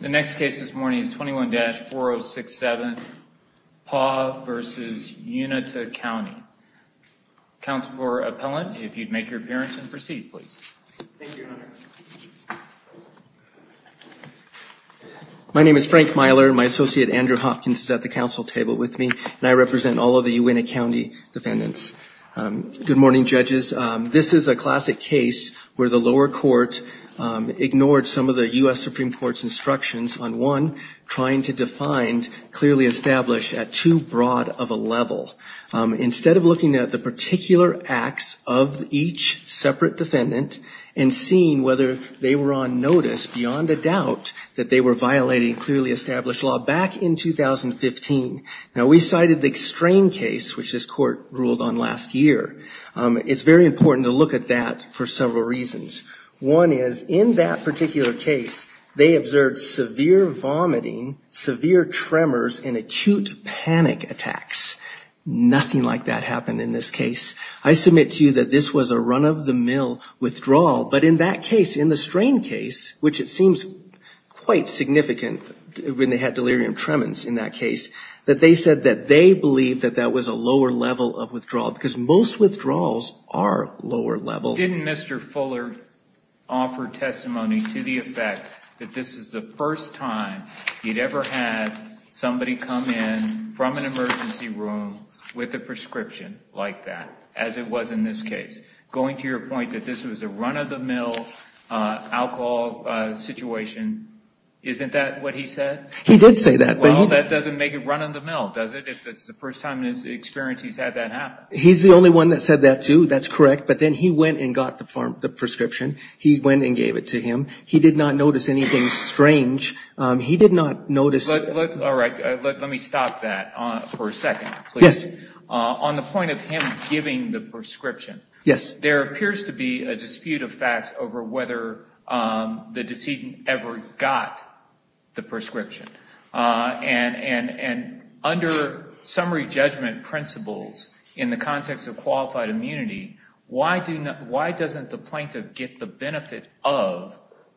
The next case this morning is 21-4067, Paugh v. Uintah County. Counsel for appellant, if you'd make your appearance and proceed, please. Thank you, Your Honor. My name is Frank Myler. My associate, Andrew Hopkins, is at the council table with me, and I represent all of the Uintah County defendants. Good morning, judges. This is a classic case where the lower court ignored some of the U.S. Supreme Court's instructions on one, trying to define clearly established at too broad of a level. Instead of looking at the particular acts of each separate defendant and seeing whether they were on notice beyond a doubt that they were violating clearly established law back in 2015. Now, we cited the Strain case, which this court ruled on last year. It's very important to look at that for several reasons. One is, in that particular case, they observed severe vomiting, severe tremors, and acute panic attacks. Nothing like that happened in this case. I submit to you that this was a run-of-the-mill withdrawal, but in that case, in the Strain case, which it seems quite significant when they had delirium tremens in that case, that they said that they believed that that was a lower level of withdrawal, because most withdrawals are lower level. Didn't Mr. Fuller offer testimony to the effect that this is the first time he'd ever had somebody come in from an emergency room with a prescription like that, as it was in this case? Going to your point that this was a run-of-the-mill alcohol situation, isn't that what he said? He did say that. Well, that doesn't make it run-of-the-mill, does it, if it's the first time in his experience he's had that happen? He's the only one that said that, too. That's correct. But then he went and got the prescription. He went and gave it to him. He did not notice anything strange. He did not notice- All right. Let me stop that for a second, please. Yes. On the point of him giving the prescription- Yes. There appears to be a dispute of facts over whether the decedent ever got the prescription. And under summary judgment principles in the context of qualified immunity, why doesn't the plaintiff get the benefit of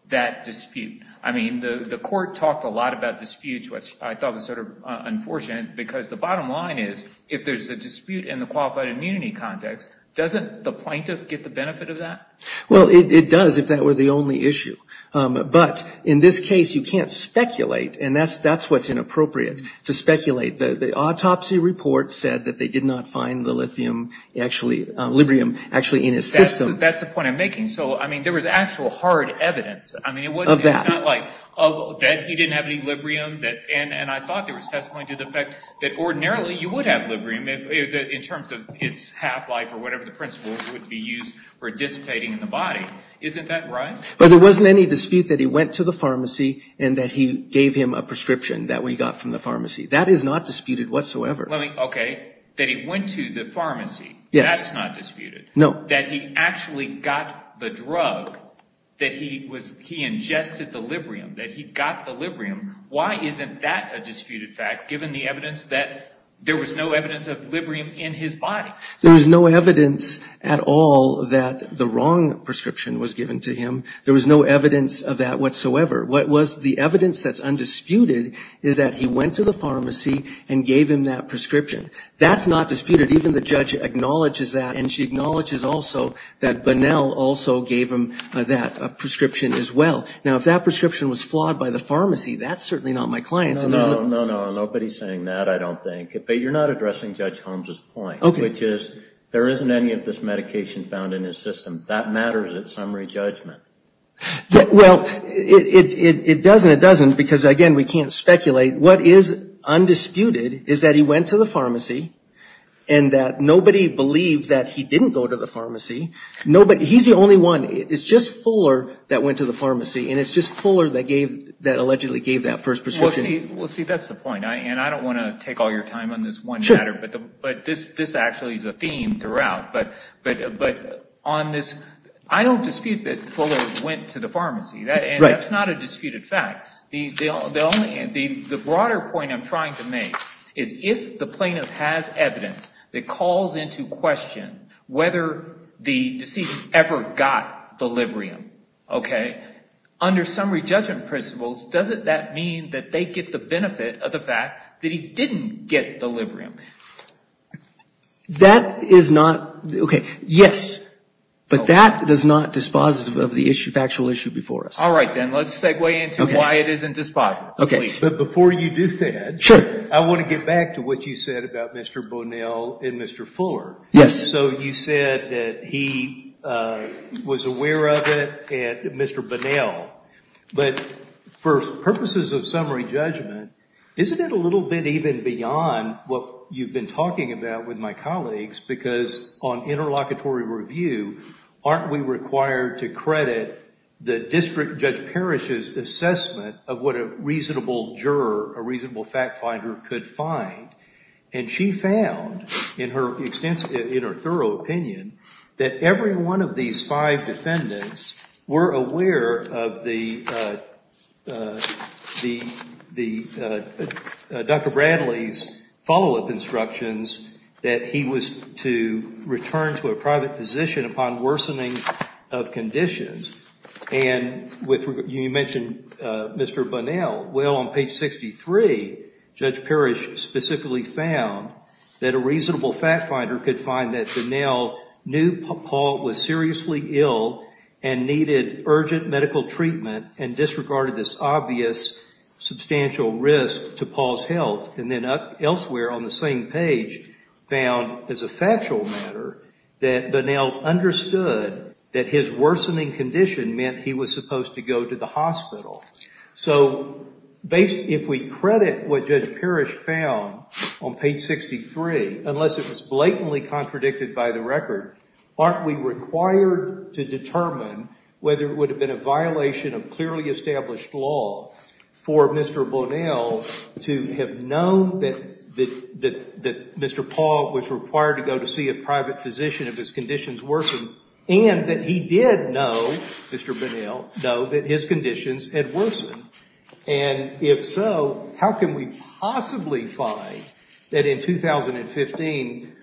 that dispute? I mean, the court talked a lot about disputes, which I thought was sort of unfortunate, because the bottom line is, if there's a dispute in the qualified immunity context, doesn't the plaintiff get the benefit of that? Well, it does, if that were the only issue. But in this case, you can't speculate, and that's what's inappropriate, to speculate. The autopsy report said that they did not find the lithium, actually, librium, actually in his system. That's the point I'm making. So, I mean, there was actual hard evidence. Of that. It's not like, oh, that he didn't have any librium, and I thought there was testimony to the fact that ordinarily you would have librium, in terms of its half-life or whatever the principle would be used for dissipating in the body. Isn't that right? But there wasn't any dispute that he went to the pharmacy and that he gave him a prescription that we got from the pharmacy. That is not disputed whatsoever. Okay. That he went to the pharmacy. Yes. That's not disputed. No. That he actually got the drug, that he ingested the librium, that he got the librium. Why isn't that a disputed fact, given the evidence that there was no evidence of librium in his body? There was no evidence at all that the wrong prescription was given to him. There was no evidence of that whatsoever. What was the evidence that's undisputed is that he went to the pharmacy and gave him that prescription. That's not disputed. Even the judge acknowledges that, and she acknowledges also that Bunnell also gave him that prescription as well. Now, if that prescription was flawed by the pharmacy, that's certainly not my client's. No, no, no, no. Nobody's saying that, I don't think. But you're not addressing Judge Holmes's point, which is there isn't any of this medication found in his system. That matters at summary judgment. Well, it doesn't. It doesn't because, again, we can't speculate. What is undisputed is that he went to the pharmacy and that nobody believed that he didn't go to the pharmacy. He's the only one. It's just Fuller that went to the pharmacy, and it's just Fuller that allegedly gave that first prescription. Well, see, that's the point. And I don't want to take all your time on this one matter, but this actually is a theme throughout. But on this, I don't dispute that Fuller went to the pharmacy. And that's not a disputed fact. The broader point I'm trying to make is if the plaintiff has evidence that calls into question whether the deceased ever got the Librium, okay, under summary judgment principles, doesn't that mean that they get the benefit of the fact that he didn't get the Librium? That is not, okay, yes, but that is not dispositive of the issue, factual issue before us. All right, then, let's segue into why it isn't dispositive. But before you do that, I want to get back to what you said about Mr. Bonnell and Mr. Fuller. So you said that he was aware of it at Mr. Bonnell, but for purposes of summary judgment, isn't it a little bit even beyond what you've been talking about with my colleagues? Because on interlocutory review, aren't we required to credit the District Judge Parrish's assessment of what a reasonable juror, a reasonable fact finder could find? And she found in her thorough opinion that every one of these five defendants were aware of Dr. Bradley's follow-up instructions that he was to return to a private position upon worsening of conditions. And you mentioned Mr. Bonnell. Well, on page 63, Judge Parrish specifically found that a reasonable fact finder could find that Bonnell knew Paul was seriously ill and needed urgent medical treatment and disregarded this obvious substantial risk to Paul's health. And then elsewhere on the same page, found as a factual matter that Bonnell understood that his worsening condition meant he was supposed to go to the hospital. So if we credit what Judge Parrish found on page 63, unless it was blatantly contradicted by the record, aren't we required to determine whether it would have been a violation of clearly established law for Mr. Bonnell to have known that Mr. Paul was required to go to see a private physician if his conditions worsened and that he did know, Mr. Bonnell, know that his conditions had worsened? And if so, how can we possibly find that in 2015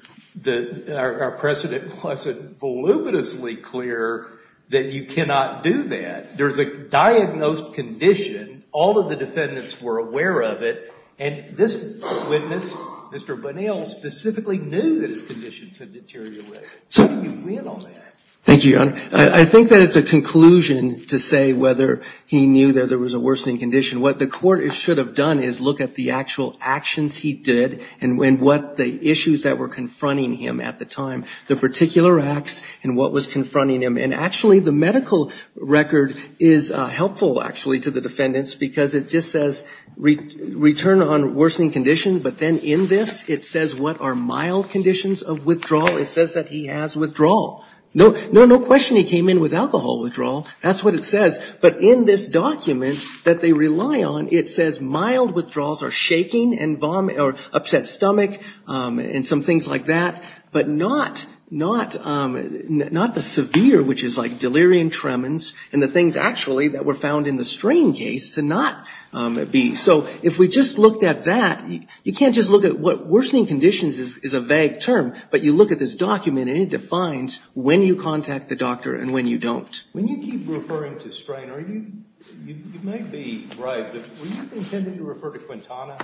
our precedent wasn't voluminously clear that you cannot do that? There's a diagnosed condition. All of the defendants were aware of it. And this witness, Mr. Bonnell, specifically knew that his conditions had deteriorated. How can you win on that? Thank you, Your Honor. I think that it's a conclusion to say whether he knew that there was a worsening condition. What the Court should have done is look at the actual actions he did and what the issues that were confronting him at the time, the particular acts and what was confronting him. And actually, the medical record is helpful, actually, to the defendants because it just says return on worsening condition, but then in this it says what are mild conditions of withdrawal. It says that he has withdrawal. No question he came in with alcohol withdrawal. That's what it says. But in this document that they rely on, it says mild withdrawals are shaking or upset stomach and some things like that, but not the severe, which is like delirium tremens and the things actually that were found in the strain case to not be. So if we just looked at that, you can't just look at what worsening conditions is a vague term, but you look at this document and it defines when you contact the doctor and when you don't. When you keep referring to strain, you might be right, but were you intending to refer to Quintana?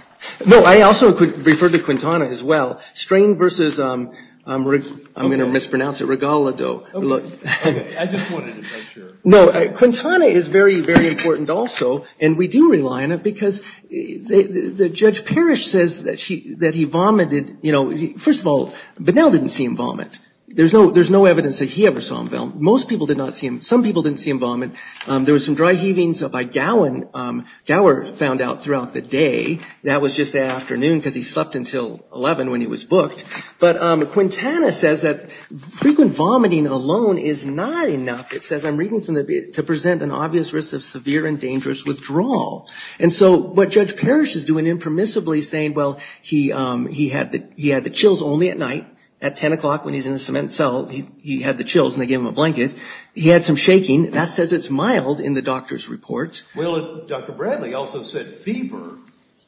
No, I also referred to Quintana as well. Strain versus, I'm going to mispronounce it, regalado. Okay. I just wanted to make sure. No, Quintana is very, very important also, and we do rely on it because the Judge Parrish says that he vomited. You know, first of all, Bunnell didn't see him vomit. There's no evidence that he ever saw him vomit. Most people did not see him. Some people didn't see him vomit. There was some dry heavings by Gower found out throughout the day. That was just afternoon because he slept until 11 when he was booked. But Quintana says that frequent vomiting alone is not enough. It says, I'm reading from the to present an obvious risk of severe and dangerous withdrawal. And so what Judge Parrish is doing impermissibly is saying, well, he had the chills only at night. At 10 o'clock when he's in the cement cell, he had the chills and they gave him a blanket. He had some shaking. That says it's mild in the doctor's report. Well, Dr. Bradley also said fever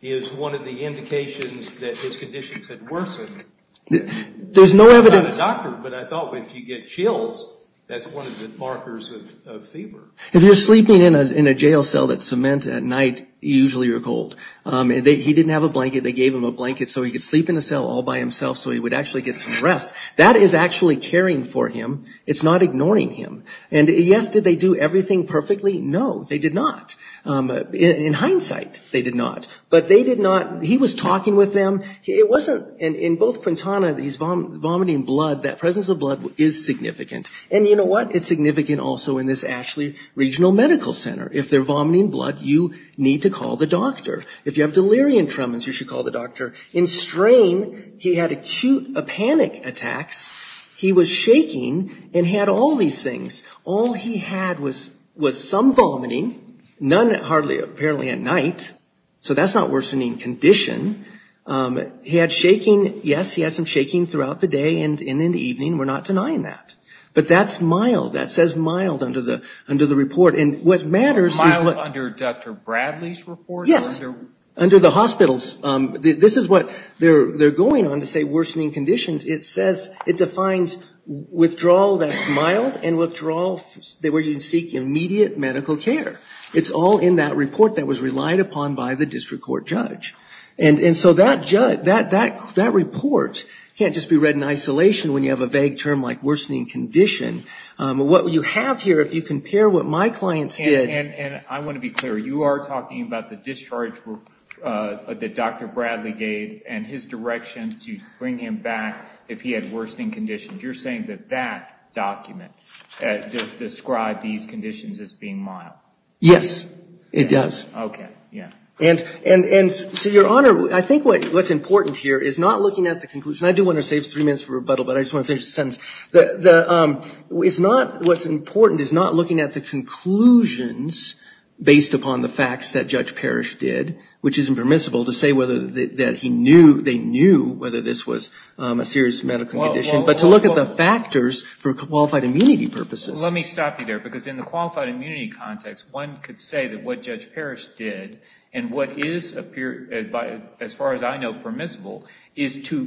is one of the indications that his conditions had worsened. There's no evidence. I'm not a doctor, but I thought if you get chills, that's one of the markers of fever. If you're sleeping in a jail cell that's cement at night, you usually are cold. He didn't have a blanket. They gave him a blanket so he could sleep in the cell all by himself so he would actually get some rest. That is actually caring for him. It's not ignoring him. And yes, did they do everything perfectly? No, they did not. In hindsight, they did not. But they did not, he was talking with them. It wasn't, in both Quintana, these vomiting blood, that presence of blood is significant. And you know what? It's significant also in this Ashley Regional Medical Center. If they're vomiting blood, you need to call the doctor. If you have delirium tremens, you should call the doctor. In strain, he had acute panic attacks. He was shaking and had all these things. All he had was some vomiting, none apparently at night. So that's not worsening condition. He had shaking, yes, he had some shaking throughout the day and in the evening. We're not denying that. But that's mild. That says mild under the report. And what matters is what – Mild under Dr. Bradley's report? Yes, under the hospital's. This is what they're going on to say worsening conditions. It says, it defines withdrawal that's mild and withdrawal where you seek immediate medical care. It's all in that report that was relied upon by the district court judge. And so that report can't just be read in isolation when you have a vague term like worsening condition. What you have here, if you compare what my clients did – And I want to be clear. You are talking about the discharge that Dr. Bradley gave and his direction to bring him back if he had worsening conditions. You're saying that that document described these conditions as being mild. Yes, it does. Okay, yeah. And so, Your Honor, I think what's important here is not looking at the conclusion. I do want to save three minutes for rebuttal, but I just want to finish the sentence. What's important is not looking at the conclusions based upon the facts that Judge Parrish did, which isn't permissible to say whether they knew whether this was a serious medical condition, but to look at the factors for qualified immunity purposes. Let me stop you there, because in the qualified immunity context, one could say that what Judge Parrish did and what is, as far as I know, permissible, is to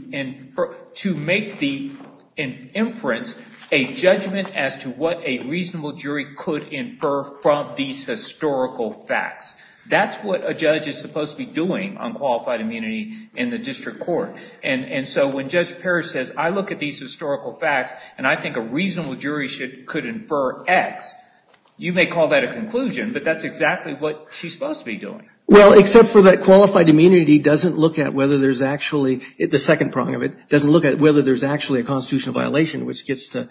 make the inference a judgment as to what a reasonable jury could infer from these historical facts. That's what a judge is supposed to be doing on qualified immunity in the district court. And so when Judge Parrish says, I look at these historical facts and I think a reasonable jury could infer X, you may call that a conclusion, but that's exactly what she's supposed to be doing. Well, except for that qualified immunity doesn't look at whether there's actually, the second prong of it, doesn't look at whether there's actually a constitutional violation, which gets to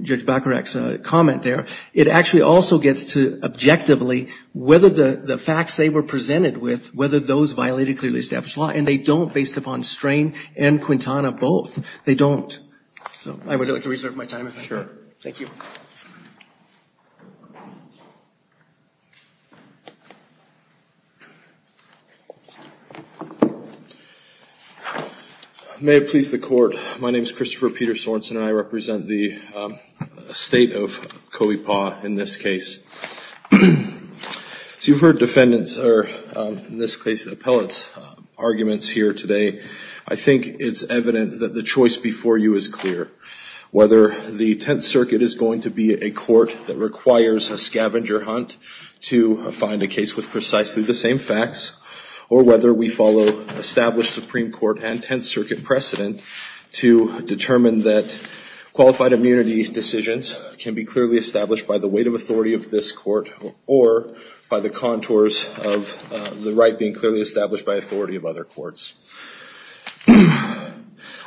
Judge Bacharach's comment there. It actually also gets to, objectively, whether the facts they were presented with, whether those violated clearly established law. And they don't, based upon strain and Quintana, both. They don't. So I would like to reserve my time. Thank you. May it please the court. My name is Christopher Peter Sorensen and I represent the state of Coey Paw in this case. So you've heard defendants, or in this case, appellants' arguments here today. I think it's evident that the choice before you is clear. Whether the Tenth Circuit is going to be a court that requires a scavenger hunt to find a case with precisely the same facts, or whether we follow established Supreme Court and Tenth Circuit precedent to determine that qualified immunity decisions can be clearly established by the weight of authority of this court, or by the contours of the right being clearly established by authority of other courts.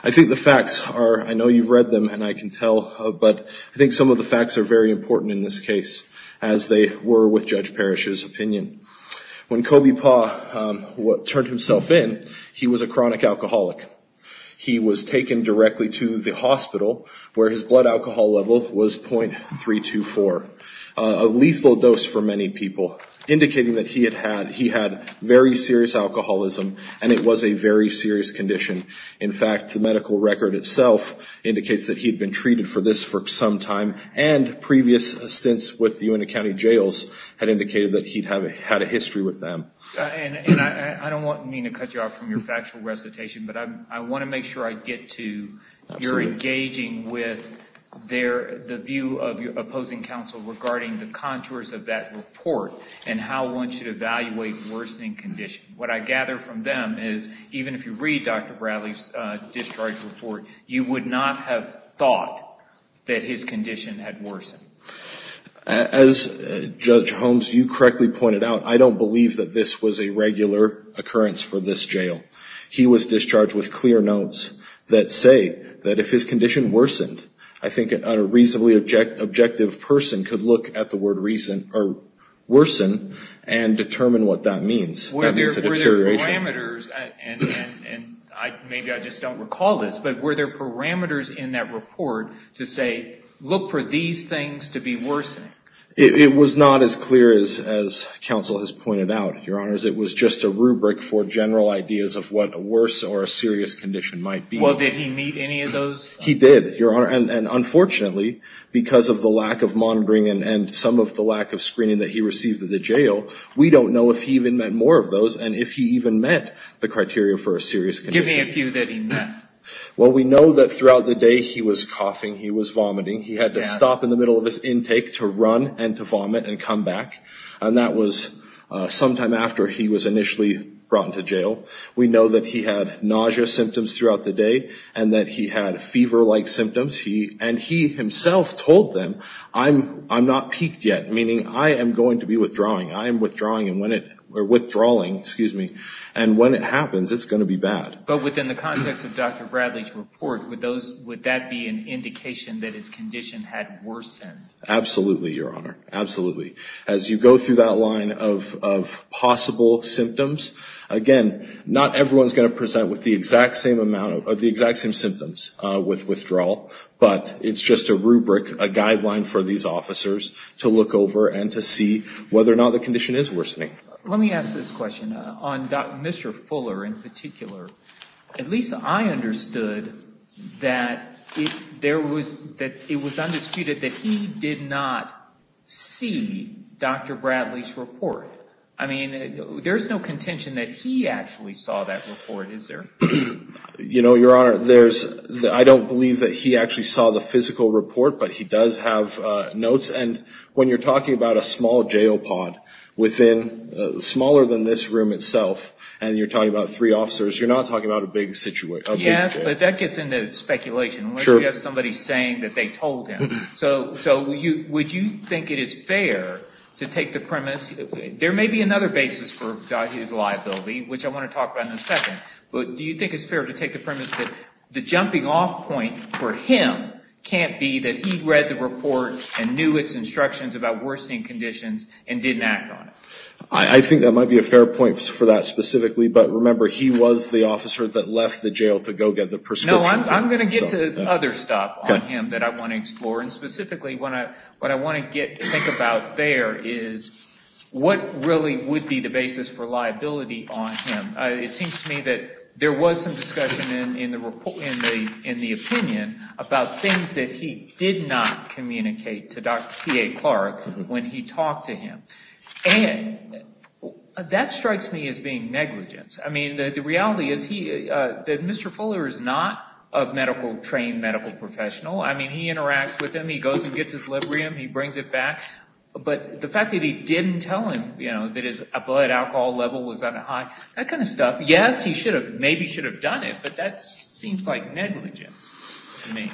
I think the facts are, I know you've read them and I can tell, but I think some of the facts are very important in this case, as they were with Judge Parrish's opinion. When Coey Paw turned himself in, he was a chronic alcoholic. He was taken directly to the hospital, where his blood alcohol level was .324. A lethal dose for many people, indicating that he had very serious alcoholism, and it was a very serious condition. In fact, the medical record itself indicates that he'd been treated for this for some time, and previous stints with the Uinta County Jails had indicated that he'd had a history with them. And I don't mean to cut you off from your factual recitation, but I want to make sure I get to you're engaging with the view of opposing counsel regarding the contours of that report, and how one should evaluate worsening condition. What I gather from them is, even if you read Dr. Bradley's discharge report, you would not have thought that his condition had worsened. As Judge Holmes, you correctly pointed out, I don't believe that this was a regular occurrence for this jail. He was discharged with clear notes that say that if his condition worsened, I think a reasonably objective person could look at the word worsen and determine what that means. That means a deterioration. Were there parameters, and maybe I just don't recall this, but were there parameters in that report to say, look for these things to be worsening? It was not as clear as counsel has pointed out, Your Honors. It was just a rubric for general ideas of what a worse or a serious condition might be. Well, did he meet any of those? He did, Your Honor. And unfortunately, because of the lack of monitoring and some of the lack of screening that he received at the jail, we don't know if he even met more of those and if he even met the criteria for a serious condition. Give me a few that he met. Well, we know that throughout the day he was coughing, he was vomiting. He had to stop in the middle of his intake to run and to vomit and come back. And that was sometime after he was initially brought into jail. We know that he had nausea symptoms throughout the day and that he had fever-like symptoms. And he himself told them, I'm not peaked yet, meaning I am going to be withdrawing. I am withdrawing and when it happens, it's going to be bad. But within the context of Dr. Bradley's report, would that be an indication that his condition had worsened? Absolutely, Your Honor. Absolutely. As you go through that line of possible symptoms, again, not everyone is going to present with the exact same symptoms with withdrawal, but it's just a rubric, a guideline for these officers to look over and to see whether or not the condition is worsening. Let me ask this question on Mr. Fuller in particular. At least I understood that it was undisputed that he did not see Dr. Bradley's report. I mean, there's no contention that he actually saw that report, is there? You know, Your Honor, I don't believe that he actually saw the physical report, but he does have notes. And when you're talking about a small jail pod within, smaller than this room itself, and you're talking about three officers, you're not talking about a big jail. Yes, but that gets into speculation. Unless you have somebody saying that they told him. So would you think it is fair to take the premise, there may be another basis for his liability, which I want to talk about in a second, but do you think it's fair to take the premise that the jumping off point for him can't be that he read the report and knew its instructions about worsening conditions and didn't act on it? I think that might be a fair point for that specifically, but remember he was the officer that left the jail to go get the prescription. No, I'm going to get to other stuff on him that I want to explore, and specifically what I want to think about there is what really would be the basis for liability on him. It seems to me that there was some discussion in the opinion about things that he did not communicate to Dr. T.A. Clark when he talked to him. And that strikes me as being negligence. I mean, the reality is that Mr. Fuller is not a trained medical professional. I mean, he interacts with him. He goes and gets his Librium. He brings it back. But the fact that he didn't tell him that his blood alcohol level was that high, that kind of stuff, yes, he maybe should have done it, but that seems like negligence to me.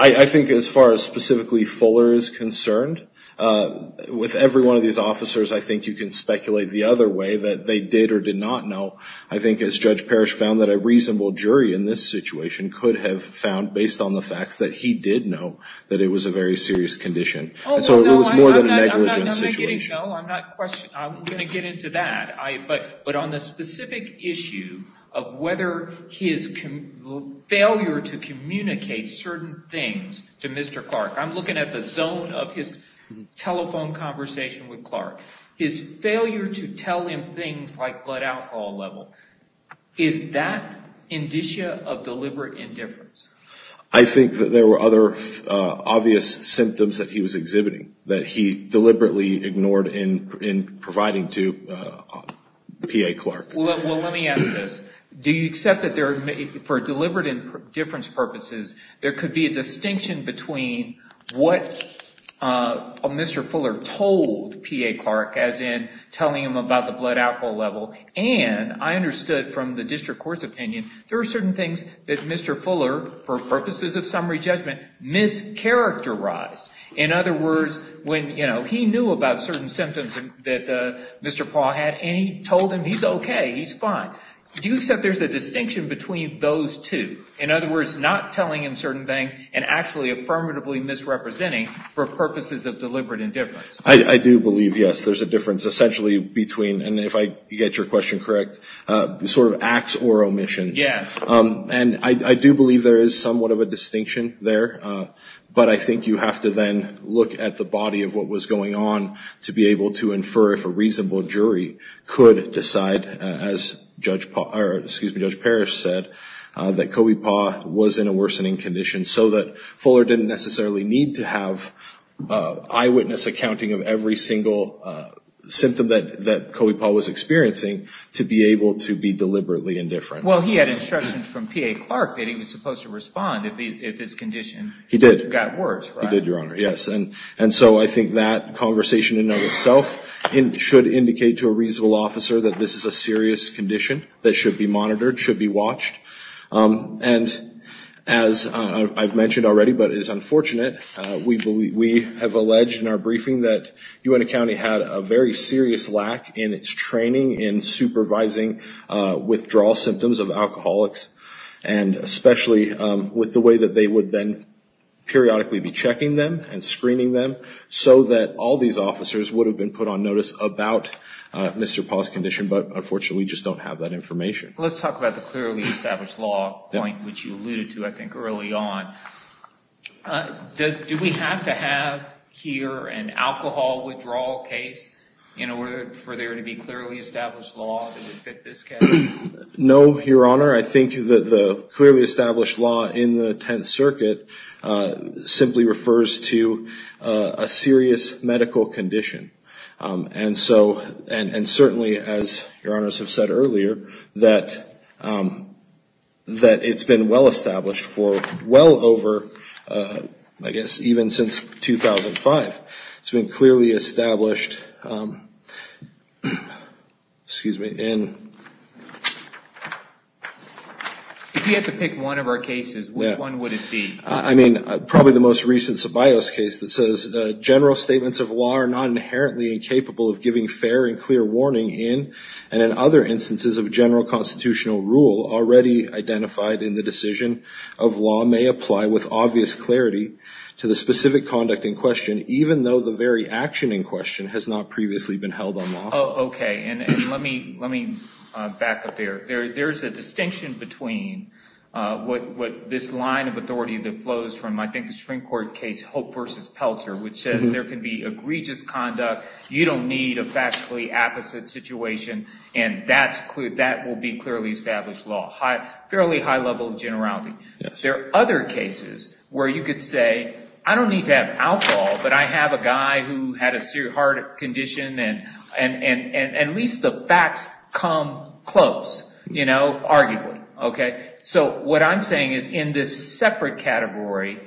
I think as far as specifically Fuller is concerned, with every one of these officers, I think you can speculate the other way that they did or did not know. I think, as Judge Parrish found, that a reasonable jury in this situation could have found, based on the facts, that he did know that it was a very serious condition. And so it was more than a negligence situation. No, I'm not going to get into that. But on the specific issue of whether his failure to communicate certain things to Mr. Clark, I'm looking at the zone of his telephone conversation with Clark. His failure to tell him things like blood alcohol level, is that indicia of deliberate indifference? I think that there were other obvious symptoms that he was exhibiting that he deliberately ignored in providing to P.A. Clark. Well, let me ask this. Do you accept that for deliberate indifference purposes, there could be a distinction between what Mr. Fuller told P.A. Clark, as in telling him about the blood alcohol level, and I understood from the district court's opinion, there are certain things that Mr. Fuller, for purposes of summary judgment, mischaracterized. In other words, when he knew about certain symptoms that Mr. Paul had, and he told him he's okay, he's fine. Do you accept there's a distinction between those two? In other words, not telling him certain things, and actually affirmatively misrepresenting for purposes of deliberate indifference. I do believe, yes, there's a difference essentially between, and if I get your question correct, sort of acts or omissions. Yes. And I do believe there is somewhat of a distinction there. But I think you have to then look at the body of what was going on to be able to infer if a reasonable jury could decide, as Judge Parrish said, that Kobe Paul was in a worsening condition, so that Fuller didn't necessarily need to have eyewitness accounting of every single symptom that Kobe Paul was experiencing to be able to be deliberately indifferent. Well, he had instructions from P.A. Clark that he was supposed to respond if his condition got worse. He did. He did, Your Honor, yes. And so I think that conversation in and of itself should indicate to a reasonable officer that this is a serious condition that should be monitored, should be watched. And as I've mentioned already but is unfortunate, we have alleged in our briefing that Uintah County had a very serious lack in its training in supervising withdrawal symptoms of alcoholics, and especially with the way that they would then periodically be checking them and screening them, so that all these officers would have been put on notice about Mr. Paul's condition but unfortunately just don't have that information. Let's talk about the clearly established law point, which you alluded to, I think, early on. Do we have to have here an alcohol withdrawal case in order for there to be clearly established law that would fit this case? No, Your Honor. I think that the clearly established law in the Tenth Circuit simply refers to a serious medical condition. And certainly, as Your Honors have said earlier, that it's been well-established for well over, I guess, even since 2005. It's been clearly established in... If you had to pick one of our cases, which one would it be? I mean, probably the most recent Ceballos case that says, general statements of law are not inherently incapable of giving fair and clear warning in and in other instances of general constitutional rule already identified in the decision of law may apply with obvious clarity to the specific conduct in question, even though the very action in question has not previously been held unlawful. Okay, and let me back up there. There's a distinction between this line of authority that flows from, I think, the Supreme Court case, Hope v. Pelcher, which says there can be egregious conduct. You don't need a factually opposite situation, and that will be clearly established law. Fairly high level of generality. There are other cases where you could say, I don't need to have alcohol, but I have a guy who had a severe heart condition, and at least the facts come close, you know, arguably. Okay, so what I'm saying is in this separate category,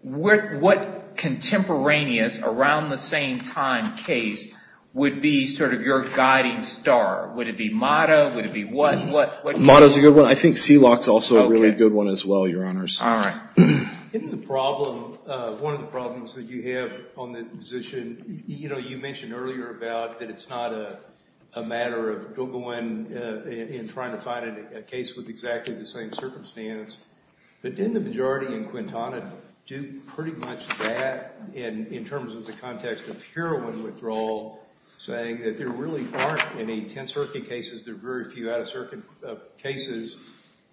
what contemporaneous around the same time case would be sort of your guiding star? Would it be Motto? Would it be what? Motto's a good one. I think Sealock's also a really good one as well, Your Honors. All right. Isn't the problem, one of the problems that you have on the position, you know, you mentioned earlier about that it's not a matter of going and trying to find a case with exactly the same circumstance. But didn't the majority in Quintana do pretty much that in terms of the context of heroin withdrawal, saying that there really aren't any tense hurricane cases, there are very few out-of-circuit cases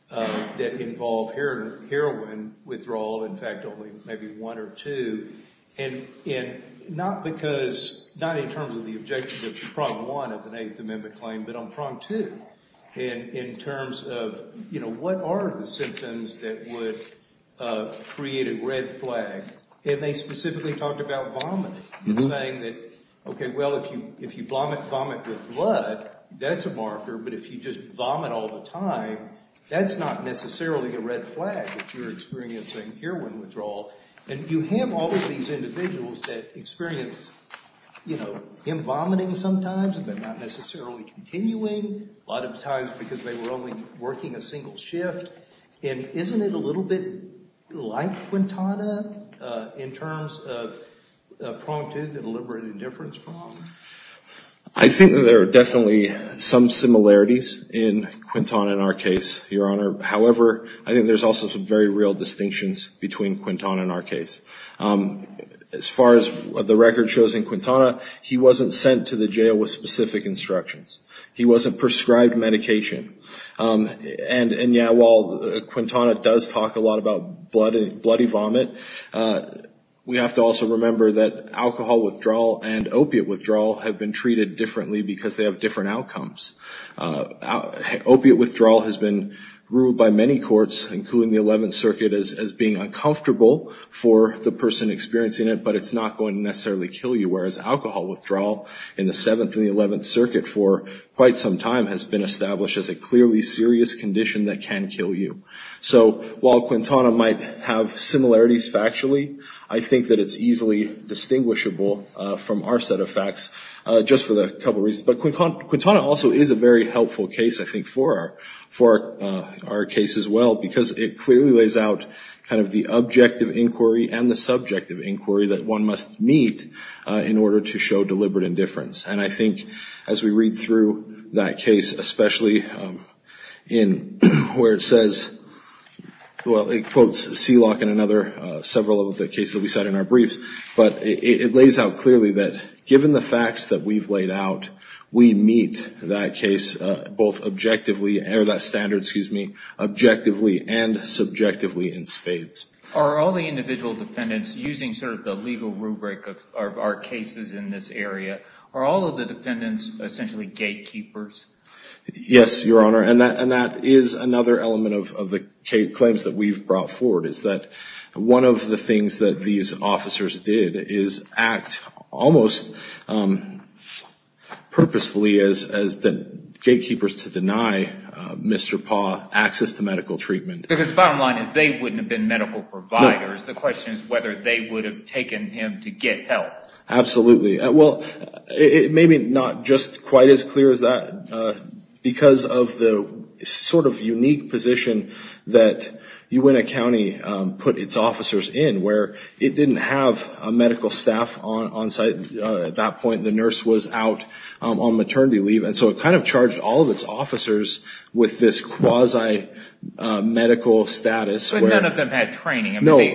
that involve heroin withdrawal. In fact, only maybe one or two. And not because, not in terms of the objectives of Prompt 1 of the Eighth Amendment claim, but on Prompt 2 in terms of, you know, what are the symptoms that would create a red flag? And they specifically talked about vomiting and saying that, okay, well, if you vomit with blood, that's a marker, but if you just vomit all the time, that's not necessarily a red flag if you're experiencing heroin withdrawal. And you have all of these individuals that experience, you know, him vomiting sometimes but not necessarily continuing, a lot of times because they were only working a single shift. And isn't it a little bit like Quintana in terms of Prompt 2, the deliberate indifference problem? I think that there are definitely some similarities in Quintana in our case, Your Honor. However, I think there's also some very real distinctions between Quintana and our case. As far as the record shows in Quintana, he wasn't sent to the jail with specific instructions. He wasn't prescribed medication. And, yeah, while Quintana does talk a lot about bloody vomit, we have to also remember that alcohol withdrawal and opiate withdrawal have been treated differently because they have different outcomes. Opiate withdrawal has been ruled by many courts, including the 11th Circuit, as being uncomfortable for the person experiencing it, but it's not going to necessarily kill you, whereas alcohol withdrawal in the 7th and the 11th Circuit for quite some time has been established as a clearly serious condition that can kill you. So while Quintana might have similarities factually, I think that it's easily distinguishable from our set of facts just for a couple of reasons. But Quintana also is a very helpful case, I think, for our case as well, because it clearly lays out kind of the objective inquiry and the subjective inquiry that one must meet in order to show deliberate indifference. And I think as we read through that case, especially in where it says, well, it quotes Seelock and another several of the cases that we cite in our briefs, but it lays out clearly that given the facts that we've laid out, we meet that case both objectively, or that standard, excuse me, objectively and subjectively in spades. Are all the individual defendants using sort of the legal rubric of our cases in this area, are all of the defendants essentially gatekeepers? Yes, Your Honor, and that is another element of the claims that we've brought forward, is that one of the things that these officers did is act almost purposefully as gatekeepers to deny Mr. Paugh access to medical treatment. Because the bottom line is they wouldn't have been medical providers. The question is whether they would have taken him to get help. Absolutely. Well, it may be not just quite as clear as that because of the sort of unique position that Uintah County put its officers in, where it didn't have a medical staff on site at that point. The nurse was out on maternity leave. And so it kind of charged all of its officers with this quasi-medical status. But none of them had training. No, they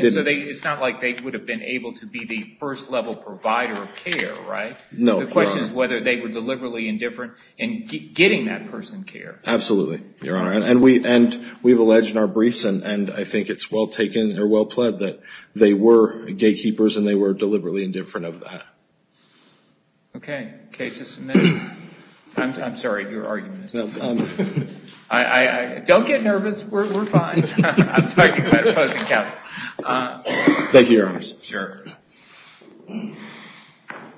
didn't. So it's not like they would have been able to be the first-level provider of care, right? No, Your Honor. The question is whether they were deliberately indifferent in getting that person care. Absolutely, Your Honor, and we've alleged in our briefs, and I think it's well taken or well pled that they were gatekeepers and they were deliberately indifferent of that. Okay. Case is submitted. I'm sorry. Your argument is? No. Don't get nervous. We're fine. I'm talking about opposing counsel. Thank you, Your Honor. Sure.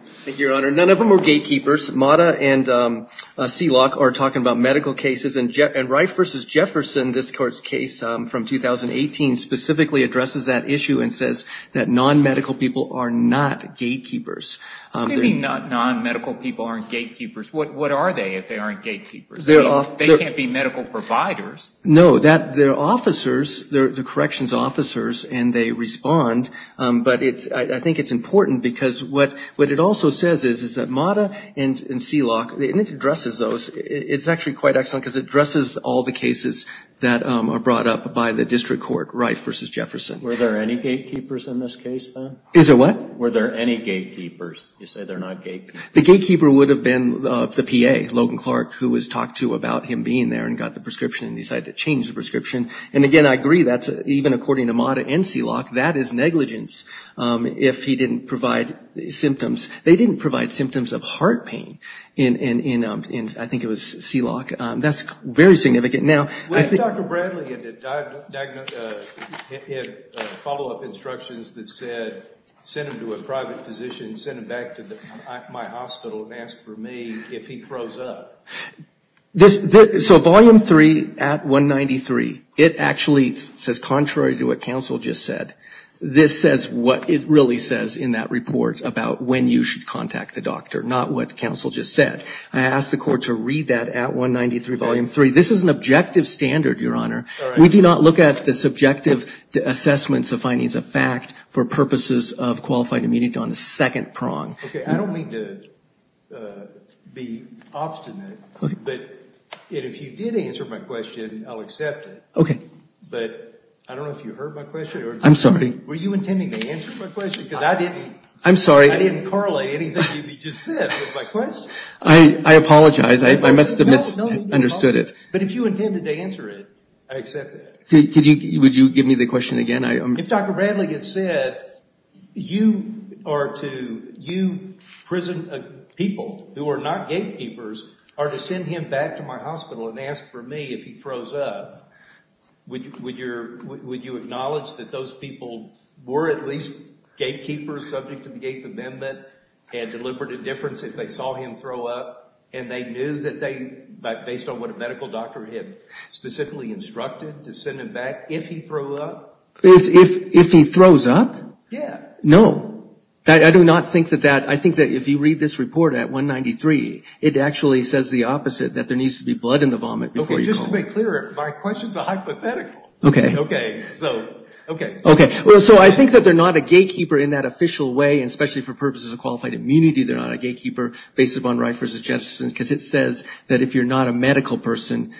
Thank you, Your Honor. None of them were gatekeepers. Mata and Seelock are talking about medical cases. And Rife v. Jefferson, this court's case from 2018, specifically addresses that issue and says that non-medical people are not gatekeepers. What do you mean non-medical people aren't gatekeepers? What are they if they aren't gatekeepers? They can't be medical providers. No. They're officers. They're corrections officers and they respond. But I think it's important because what it also says is that Mata and Seelock, and it addresses those, it's actually quite excellent because it addresses all the cases that are brought up by the district court, Rife v. Jefferson. Were there any gatekeepers in this case, then? Is there what? Were there any gatekeepers? You say they're not gatekeepers. The gatekeeper would have been the PA, Logan Clark, who was talked to about him being there and got the prescription and decided to change the prescription. And again, I agree, even according to Mata and Seelock, that is negligence if he didn't provide symptoms. They didn't provide symptoms of heart pain in, I think it was Seelock. That's very significant. Dr. Bradley had follow-up instructions that said, send him to a private physician, send him back to my hospital and ask for me if he froze up. So Volume 3 at 193, it actually says, contrary to what counsel just said, this says what it really says in that report about when you should contact the doctor, not what counsel just said. I asked the court to read that at 193, Volume 3. This is an objective standard, Your Honor. We do not look at the subjective assessments of findings of fact for purposes of qualified immunity on the second prong. Okay. I don't mean to be obstinate, but if you did answer my question, I'll accept it. Okay. But I don't know if you heard my question. I'm sorry. Were you intending to answer my question? Because I didn't correlate anything you just said with my question. I apologize. I must have misunderstood it. But if you intended to answer it, I accept that. Would you give me the question again? If Dr. Bradley had said, you prison people who are not gatekeepers are to send him back to my hospital and ask for me if he froze up, would you acknowledge that those people were at least gatekeepers subject to the Gate Amendment and deliberate indifference if they saw him throw up and they knew that they, based on what a medical doctor had specifically instructed, to send him back if he froze up? If he froze up? Yeah. No. I do not think that that. I think that if you read this report at 193, it actually says the opposite, that there needs to be blood in the vomit before you call. Okay. Just to make clear, my question is a hypothetical. Okay. Okay. So, okay. Okay. So I think that they're not a gatekeeper in that official way, and especially for purposes of qualified immunity, they're not a gatekeeper based upon right versus justice, because it says that if you're not a medical person,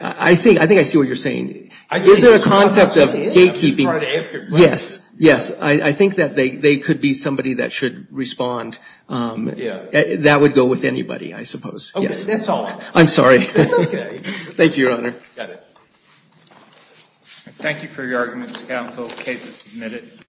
I think I see what you're saying. Is there a concept of gatekeeping? Yes. Yes. I think that they could be somebody that should respond. That would go with anybody, I suppose. Yes. Okay. That's all. I'm sorry. Okay. Thank you, Your Honor. Got it. Thank you for your arguments, counsel. The case is submitted. Thank you.